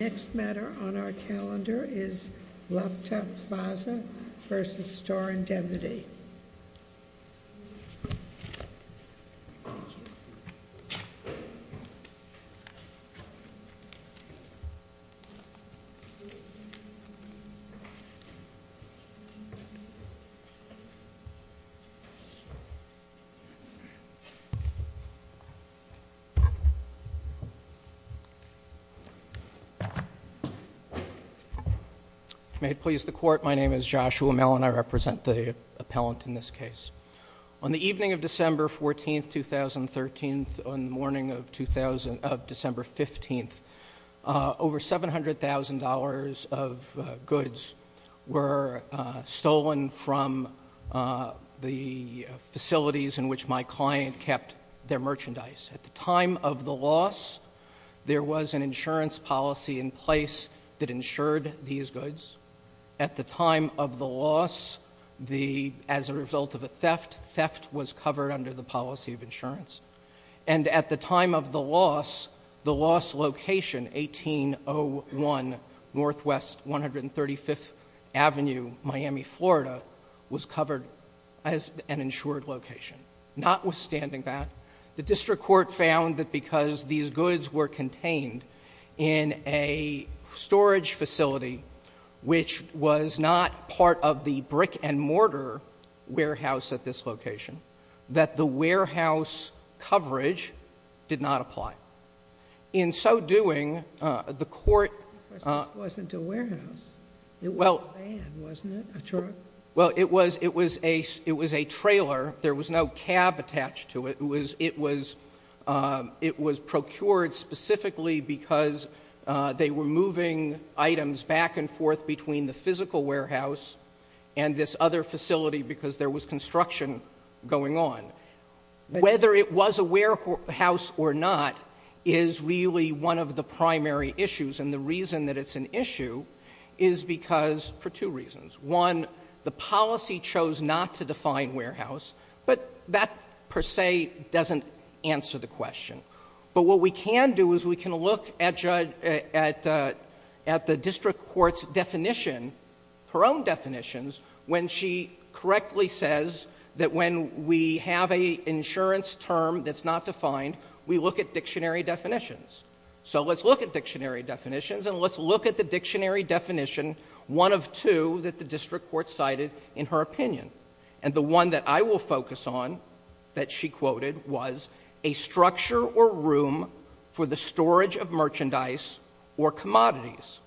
The next matter on our calendar is LaptopPlaza v. Starr Ind. May it please the Court, my name is Joshua Mellon. I represent the appellant in this case. On the evening of December 14, 2013, on the morning of December 15, over $700,000 of goods were stolen from the facilities in which my client kept their merchandise. At the time of the loss, there was an insurance policy in place that insured these goods. At the time of the loss, as a result of a theft, theft was covered under the policy of insurance. And at the time of the loss, the lost location, 1801 Northwest 135th Avenue, Miami, Florida, was covered as an insured location. Notwithstanding that, the district court found that because these goods were contained in a storage facility which was not part of the brick and mortar warehouse at this location, that the warehouse coverage did not apply. In so doing, the court— It wasn't a warehouse. It was a van, wasn't it? A truck? Well, it was a trailer. There was no cab attached to it. It was procured specifically because they were moving items back and forth between the physical warehouse and this other facility because there was construction going on. Whether it was a warehouse or not is really one of the primary issues. And the reason that it's an issue is because—for two reasons. One, the policy chose not to define warehouse, but that per se doesn't answer the question. But what we can do is we can look at the district court's definition, her own definitions, when she correctly says that when we have an insurance term that's not defined, we look at dictionary definitions. So let's look at dictionary definitions and let's look at the dictionary definition, one of two that the district court cited in her opinion. And the one that I will focus on that she quoted was a structure or room for the storage of merchandise or commodities.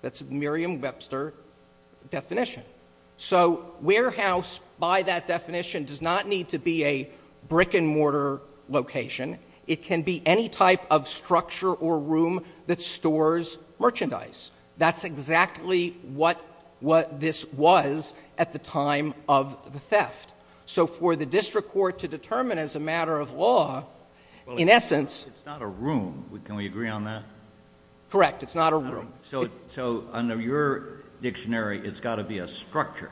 That's a Merriam-Webster definition. So warehouse, by that definition, does not need to be a brick and mortar location. It can be any type of structure or room that stores merchandise. That's exactly what this was at the time of the theft. So for the district court to determine as a matter of law, in essence— It's not a room. Can we agree on that? Correct. It's not a room. So under your dictionary, it's got to be a structure.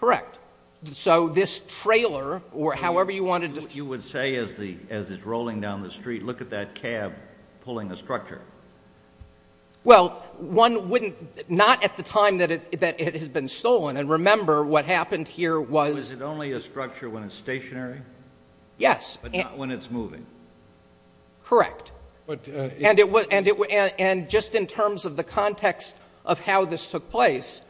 Correct. So this trailer or however you want to— If you would say as it's rolling down the street, look at that cab pulling a structure. Well, one wouldn't—not at the time that it had been stolen. And remember, what happened here was— Was it only a structure when it's stationary? Yes. But not when it's moving. Correct. And just in terms of the context of how this took place,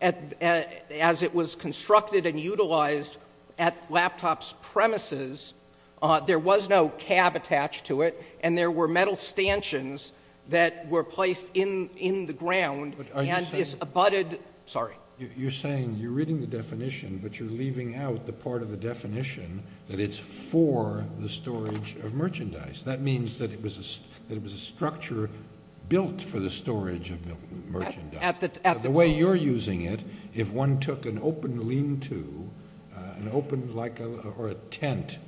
as it was constructed and utilized at the laptop's premises, there was no cab attached to it, and there were metal stanchions that were placed in the ground and this abutted— Are you saying— Sorry. You're saying you're reading the definition, but you're leaving out the part of the definition that it's for the storage of merchandise. That means that it was a structure built for the storage of merchandise. At the— The way you're using it, if one took an open lean-to, an open like—or a tent,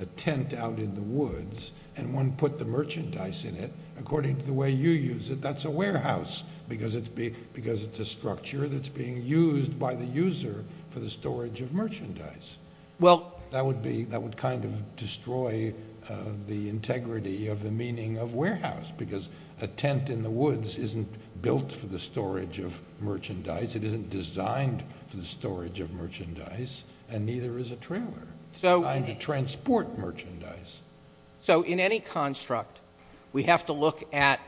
a tent out in the woods, and one put the merchandise in it, according to the way you use it, that's a warehouse, because it's a structure that's being used by the user for the storage of merchandise. Well— That would be—that would kind of destroy the integrity of the meaning of warehouse, because a tent in the woods isn't built for the storage of merchandise. It isn't designed for the storage of merchandise, and neither is a trailer. It's designed to transport merchandise. So in any construct, we have to look at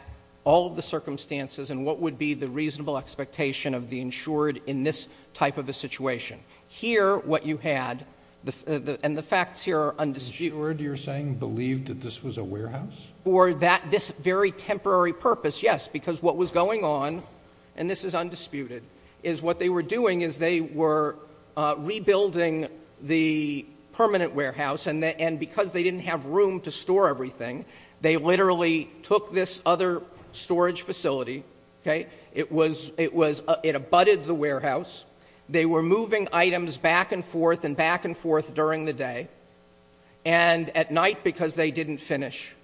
all of the circumstances and what would be the reasonable expectation of the insured in this type of a situation. Here, what you had—and the facts here are undisputed. The insured, you're saying, believed that this was a warehouse? For that—this very temporary purpose, yes, because what was going on, and this is undisputed, is what they were doing is they were rebuilding the permanent warehouse, and because they didn't have room to store everything, they literally took this other storage facility, okay? It was—it was—it abutted the warehouse. They were moving items back and forth and back and forth during the day, and at night because they didn't finish.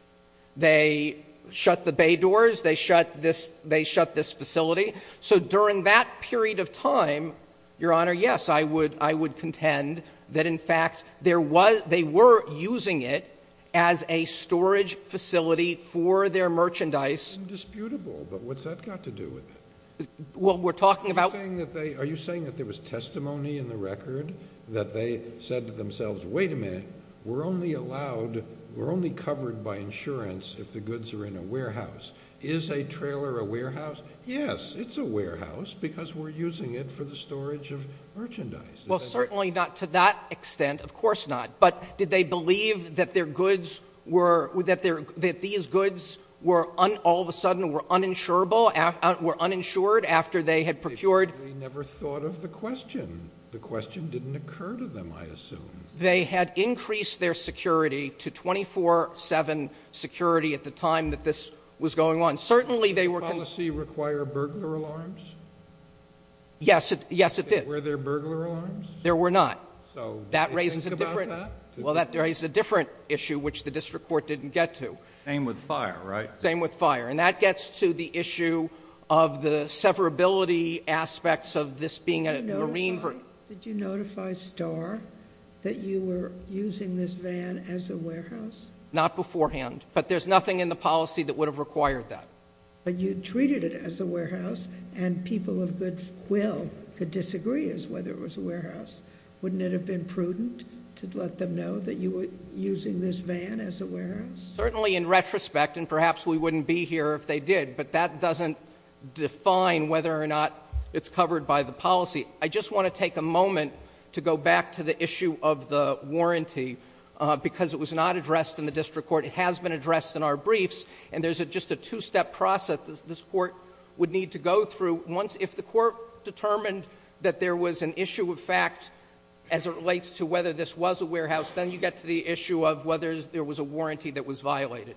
They shut the bay doors. They shut this—they shut this facility. So during that period of time, Your Honor, yes, I would—I would contend that, in fact, there was—they were using it as a storage facility for their merchandise. Undisputable, but what's that got to do with it? Well, we're talking about— Are you saying that they—are you saying that there was testimony in the record that they said to themselves, wait a minute, we're only allowed—we're only covered by insurance if the goods are in a warehouse? Is a trailer a warehouse? Yes, it's a warehouse because we're using it for the storage of merchandise. Well, certainly not to that extent. Of course not. But did they believe that their goods were—that their—that these goods were un— They never thought of the question. The question didn't occur to them, I assume. They had increased their security to 24-7 security at the time that this was going on. Certainly they were— Did the policy require burglar alarms? Yes, it—yes, it did. Were there burglar alarms? There were not. So what do you think about that? That raises a different—well, that raises a different issue, which the district court didn't get to. Same with fire, right? Same with fire. And that gets to the issue of the severability aspects of this being a marine— Did you notify—did you notify Starr that you were using this van as a warehouse? Not beforehand. But there's nothing in the policy that would have required that. But you treated it as a warehouse, and people of good will could disagree as whether it was a warehouse. Wouldn't it have been prudent to let them know that you were using this van as a warehouse? Certainly in retrospect, and perhaps we wouldn't be here if they did, but that doesn't define whether or not it's covered by the policy. I just want to take a moment to go back to the issue of the warranty, because it was not addressed in the district court. It has been addressed in our briefs, and there's just a two-step process this Court would need to go through. If the Court determined that there was an issue of fact as it relates to whether this was a warehouse, then you get to the issue of whether there was a warranty that was violated.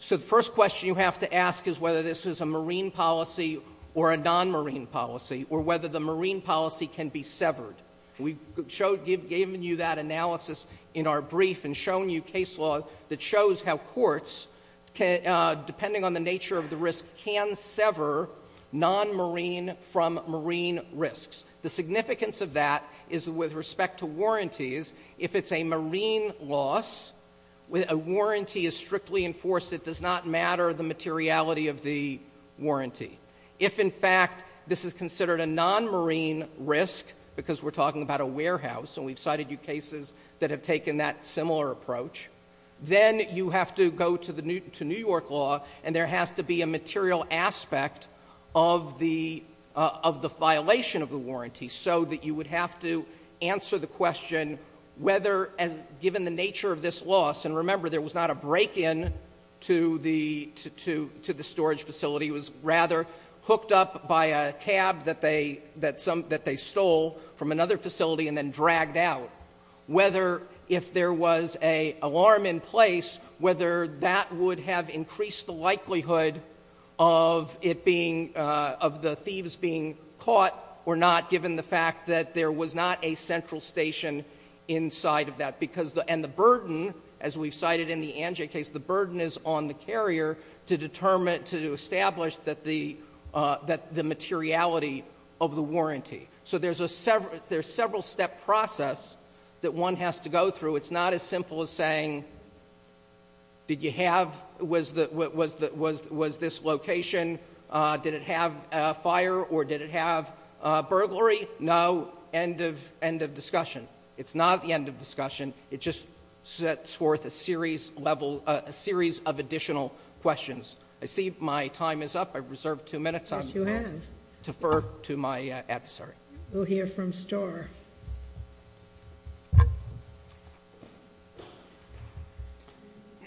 So the first question you have to ask is whether this is a marine policy or a non-marine policy, or whether the marine policy can be severed. We've given you that analysis in our brief and shown you case law that shows how courts, depending on the nature of the risk, can sever non-marine from marine risks. The significance of that is with respect to warranties, if it's a marine loss, a warranty is strictly enforced, it does not matter the materiality of the warranty. If, in fact, this is considered a non-marine risk, because we're talking about a warehouse, and we've cited you cases that have taken that similar approach, then you have to go to New York law and there has to be a material aspect of the violation of the warranty so that you would have to answer the question whether, given the nature of this loss, and remember there was not a break-in to the storage facility, it was rather hooked up by a cab that they stole from another facility and then dragged out, whether if there was an alarm in place, whether that would have increased the likelihood of the thieves being caught or not, given the fact that there was not a central station inside of that. And the burden, as we've cited in the Anjay case, the burden is on the carrier to establish the materiality of the warranty. So there's a several-step process that one has to go through. So it's not as simple as saying, did you have, was this location, did it have a fire or did it have burglary? No, end of discussion. It's not the end of discussion. It just sets forth a series of additional questions. I see my time is up. I've reserved two minutes. Yes, you have. I'll defer to my adversary. We'll hear from Starr.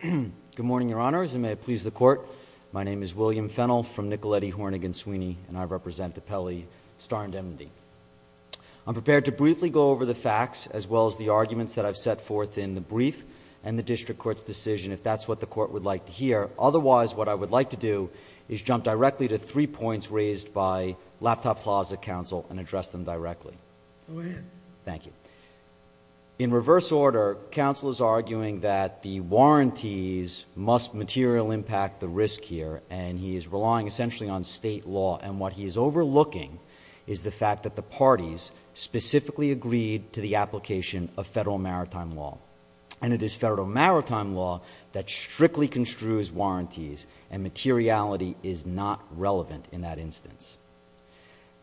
Good morning, Your Honors, and may it please the Court. My name is William Fennell from Nicoletti, Hornig, and Sweeney, and I represent the Pele, Starr, and Demondy. I'm prepared to briefly go over the facts as well as the arguments that I've set forth in the brief and the district court's decision, if that's what the court would like to hear. Otherwise, what I would like to do is jump directly to three points raised by Laptop Plaza counsel and address them directly. Go ahead. Thank you. In reverse order, counsel is arguing that the warranties must material impact the risk here, and he is relying essentially on state law. And what he is overlooking is the fact that the parties specifically agreed to the application of federal maritime law. And it is federal maritime law that strictly construes warranties, and materiality is not relevant in that instance.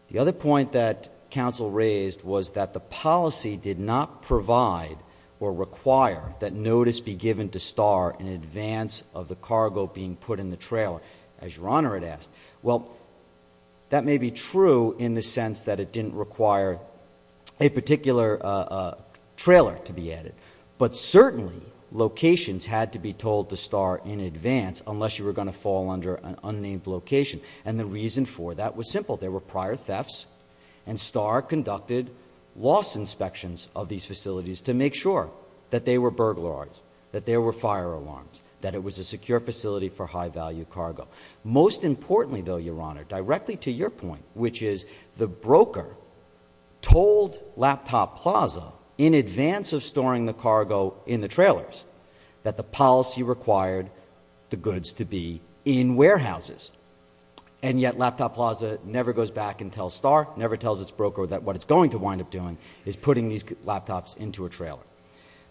The other point that counsel raised was that the policy did not provide or require that notice be given to Starr in advance of the cargo being put in the trailer, as Your Honor had asked. Well, that may be true in the sense that it didn't require a particular trailer to be added, but certainly locations had to be told to Starr in advance unless you were going to fall under an unnamed location. And the reason for that was simple. There were prior thefts, and Starr conducted loss inspections of these facilities to make sure that they were burglarized, that there were fire alarms, that it was a secure facility for high-value cargo. Most importantly, though, Your Honor, directly to your point, which is the broker told Laptop Plaza in advance of storing the cargo in the trailers that the policy required the goods to be in warehouses, and yet Laptop Plaza never goes back and tells Starr, never tells its broker that what it's going to wind up doing is putting these laptops into a trailer.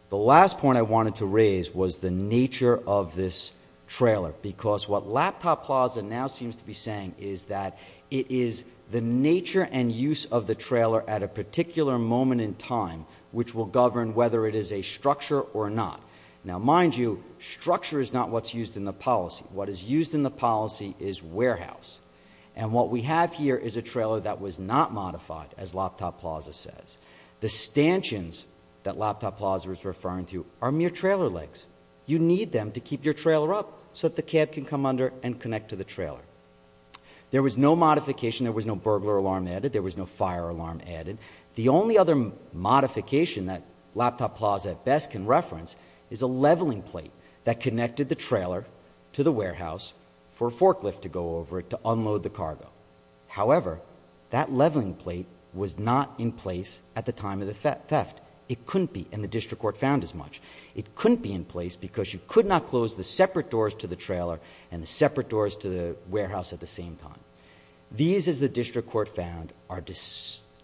The last point I wanted to raise was the nature of this trailer, because what Laptop Plaza now seems to be saying is that it is the nature and use of the trailer at a particular moment in time which will govern whether it is a structure or not. Now, mind you, structure is not what's used in the policy. What is used in the policy is warehouse, and what we have here is a trailer that was not modified, as Laptop Plaza says. The stanchions that Laptop Plaza is referring to are mere trailer legs. You need them to keep your trailer up so that the cab can come under and connect to the trailer. There was no modification. There was no burglar alarm added. There was no fire alarm added. The only other modification that Laptop Plaza at best can reference is a leveling plate that connected the trailer to the warehouse for a forklift to go over it to unload the cargo. However, that leveling plate was not in place at the time of the theft. It couldn't be, and the district court found as much. It couldn't be in place because you could not close the separate doors to the trailer and the separate doors to the warehouse at the same time. These, as the district court found, are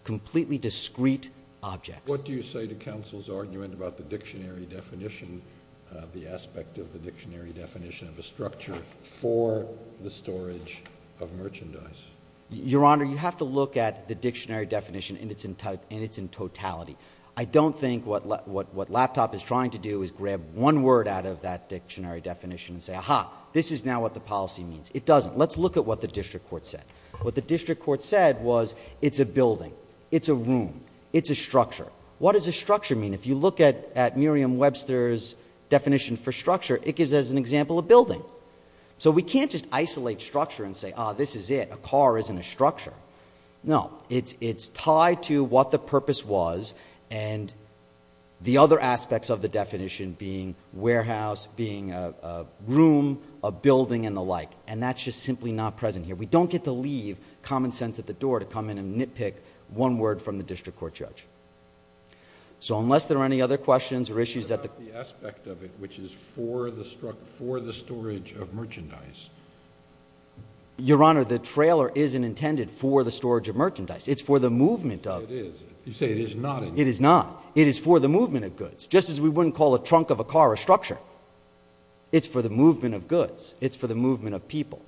completely discrete objects. What do you say to counsel's argument about the dictionary definition, the aspect of the dictionary definition of a structure for the storage of merchandise? Your Honor, you have to look at the dictionary definition in its totality. I don't think what Laptop is trying to do is grab one word out of that dictionary definition and say, aha, this is now what the policy means. It doesn't. Let's look at what the district court said. What the district court said was it's a building, it's a room, it's a structure. What does a structure mean? If you look at Merriam-Webster's definition for structure, it gives us an example of building. We can't just isolate structure and say, ah, this is it. A car isn't a structure. No, it's tied to what the purpose was and the other aspects of the definition being warehouse, being a room, a building, and the like, and that's just simply not present here. We don't get to leave common sense at the door to come in and nitpick one word from the district court judge. So unless there are any other questions or issues... What about the aspect of it, which is for the storage of merchandise? Your Honor, the trailer isn't intended for the storage of merchandise. It's for the movement of... It is. You say it is not intended. It is not. It is for the movement of goods, just as we wouldn't call a trunk of a car a structure. It's for the movement of goods. It's for the movement of people.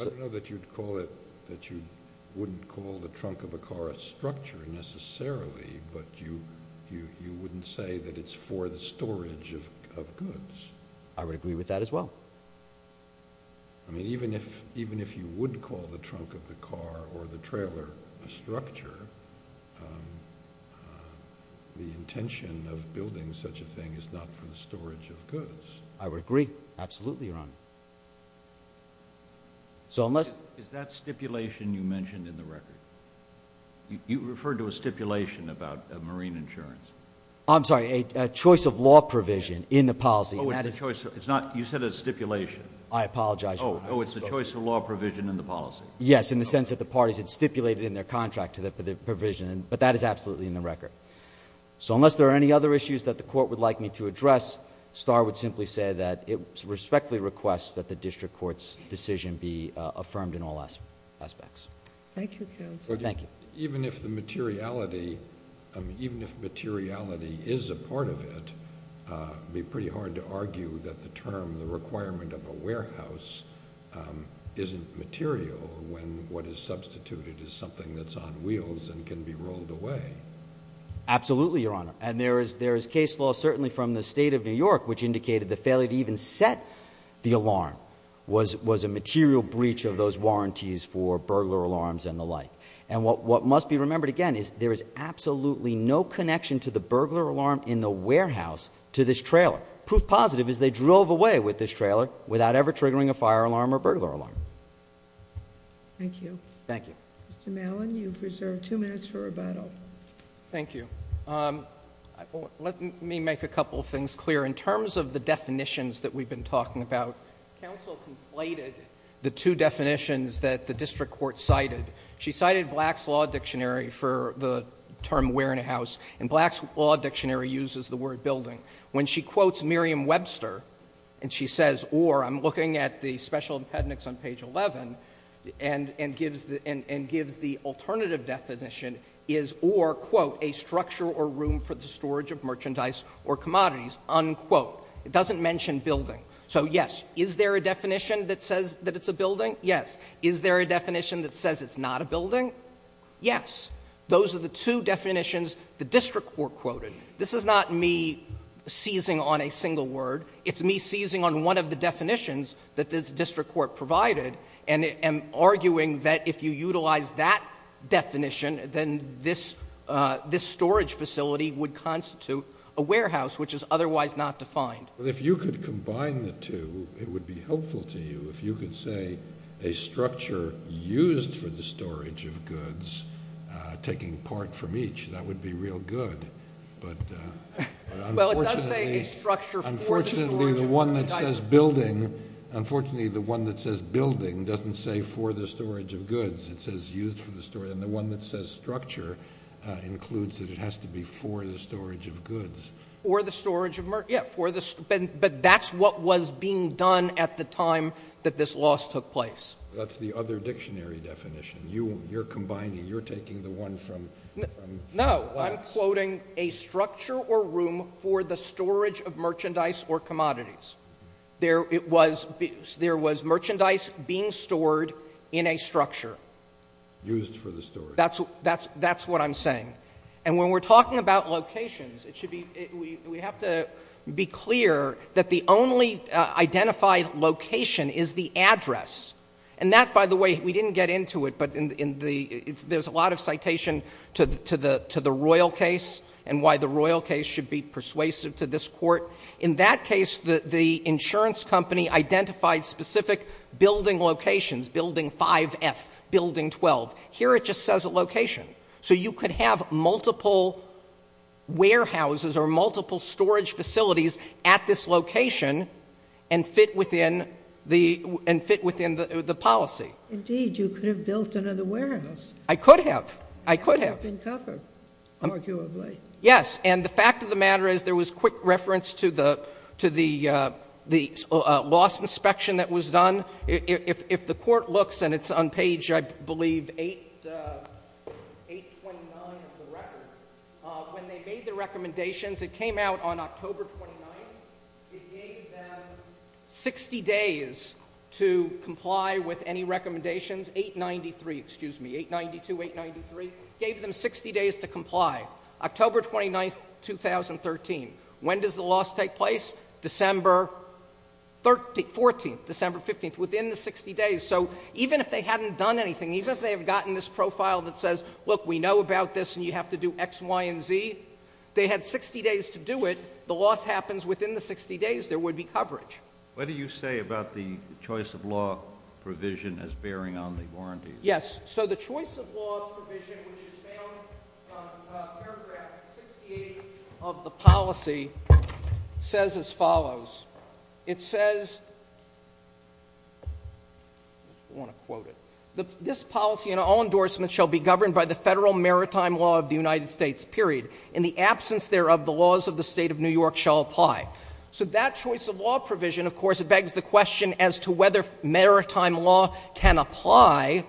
I don't know that you'd call it, that you wouldn't call the trunk of a car a structure necessarily, I would agree with that as well. I mean, even if you would call the trunk of the car or the trailer a structure, the intention of building such a thing is not for the storage of goods. I would agree. Absolutely, Your Honor. So unless... Is that stipulation you mentioned in the record? You referred to a stipulation about marine insurance. I'm sorry, a choice of law provision in the policy. Oh, it's the choice of... It's not... You said it's stipulation. I apologize, Your Honor. Oh, it's the choice of law provision in the policy. Yes, in the sense that the parties had stipulated in their contract to the provision, but that is absolutely in the record. So unless there are any other issues that the court would like me to address, Starr would simply say that it respectfully requests that the district court's decision be affirmed in all aspects. Thank you, counsel. Thank you. Even if the materiality... even if materiality is a part of it, it would be pretty hard to argue that the term, the requirement of a warehouse, isn't material when what is substituted is something that's on wheels and can be rolled away. Absolutely, Your Honor. And there is case law, certainly from the State of New York, which indicated the failure to even set the alarm was a material breach of those warranties for burglar alarms and the like. And what must be remembered again is there is absolutely no connection to the burglar alarm in the warehouse to this trailer. Proof positive is they drove away with this trailer without ever triggering a fire alarm or burglar alarm. Thank you. Thank you. Mr. Malin, you've reserved two minutes for rebuttal. Thank you. Let me make a couple of things clear. In terms of the definitions that we've been talking about, counsel conflated the two definitions that the district court cited. She cited Black's Law Dictionary for the term warehouse. And Black's Law Dictionary uses the word building. When she quotes Merriam-Webster, and she says, or I'm looking at the special appendix on page 11 and gives the alternative definition, is or, quote, a structure or room for the storage of merchandise or commodities, unquote. It doesn't mention building. So, yes, is there a definition that says that it's a building? Yes. Is there a definition that says it's not a building? Yes. Those are the two definitions the district court quoted. This is not me seizing on a single word. It's me seizing on one of the definitions that the district court provided and arguing that if you utilize that definition, then this storage facility would constitute a warehouse, which is otherwise not defined. Well, if you could combine the two, it would be helpful to you. If you could say a structure used for the storage of goods taking part from each, that would be real good. But unfortunately the one that says building doesn't say for the storage of goods. It says used for the storage. And the one that says structure includes that it has to be for the storage of goods. For the storage of goods. Yes. But that's what was being done at the time that this loss took place. That's the other dictionary definition. You're combining. You're taking the one from the last. No. I'm quoting a structure or room for the storage of merchandise or commodities. There was merchandise being stored in a structure. Used for the storage. That's what I'm saying. And when we're talking about locations, we have to be clear that the only identified location is the address. And that, by the way, we didn't get into it, but there's a lot of citation to the Royal case and why the Royal case should be persuasive to this Court. In that case, the insurance company identified specific building locations, building 5F, building 12. Here it just says a location. So you could have multiple warehouses or multiple storage facilities at this location and fit within the policy. Indeed. You could have built another warehouse. I could have. I could have. It could have been covered, arguably. Yes. And the fact of the matter is there was quick reference to the loss inspection that was done. If the Court looks, and it's on page, I believe, 829 of the record, when they made the recommendations, it came out on October 29th. It gave them 60 days to comply with any recommendations. 893, excuse me. 892, 893. Gave them 60 days to comply. October 29th, 2013. When does the loss take place? December 14th, December 15th, within the 60 days. So even if they hadn't done anything, even if they had gotten this profile that says, look, we know about this and you have to do X, Y, and Z, they had 60 days to do it. The loss happens within the 60 days. There would be coverage. What do you say about the choice of law provision as bearing on the warranties? Yes. So the choice of law provision, which is found on paragraph 68 of the policy, says as follows. It says, I want to quote it. This policy and all endorsements shall be governed by the federal maritime law of the United States, period. In the absence thereof, the laws of the State of New York shall apply. So that choice of law provision, of course, begs the question as to whether maritime law can apply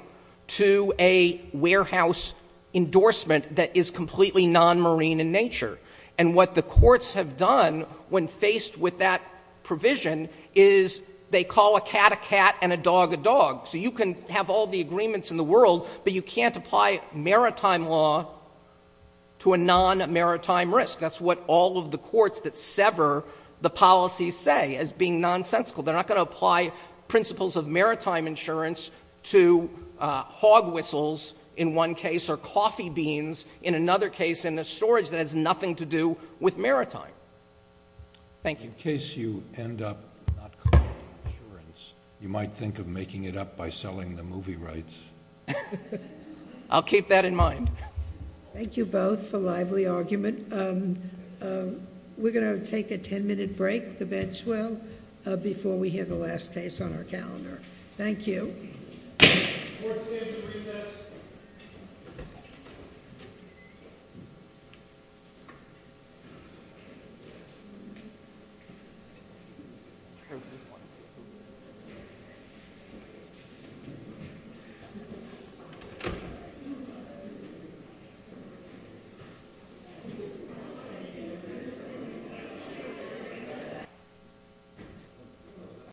to a warehouse endorsement that is completely non-marine in nature. And what the courts have done when faced with that provision is they call a cat a cat and a dog a dog. So you can have all the agreements in the world, but you can't apply maritime law to a non-maritime risk. That's what all of the courts that sever the policy say as being nonsensical. They're not going to apply principles of maritime insurance to hog whistles, in one case, or coffee beans, in another case, in a storage that has nothing to do with maritime. Thank you. In case you end up not covering insurance, you might think of making it up by selling the movie rights. I'll keep that in mind. Thank you both for lively argument. We're going to take a ten minute break, the bench will, before we hear the last case on our calendar. Thank you. Court stands at recess. Thank you.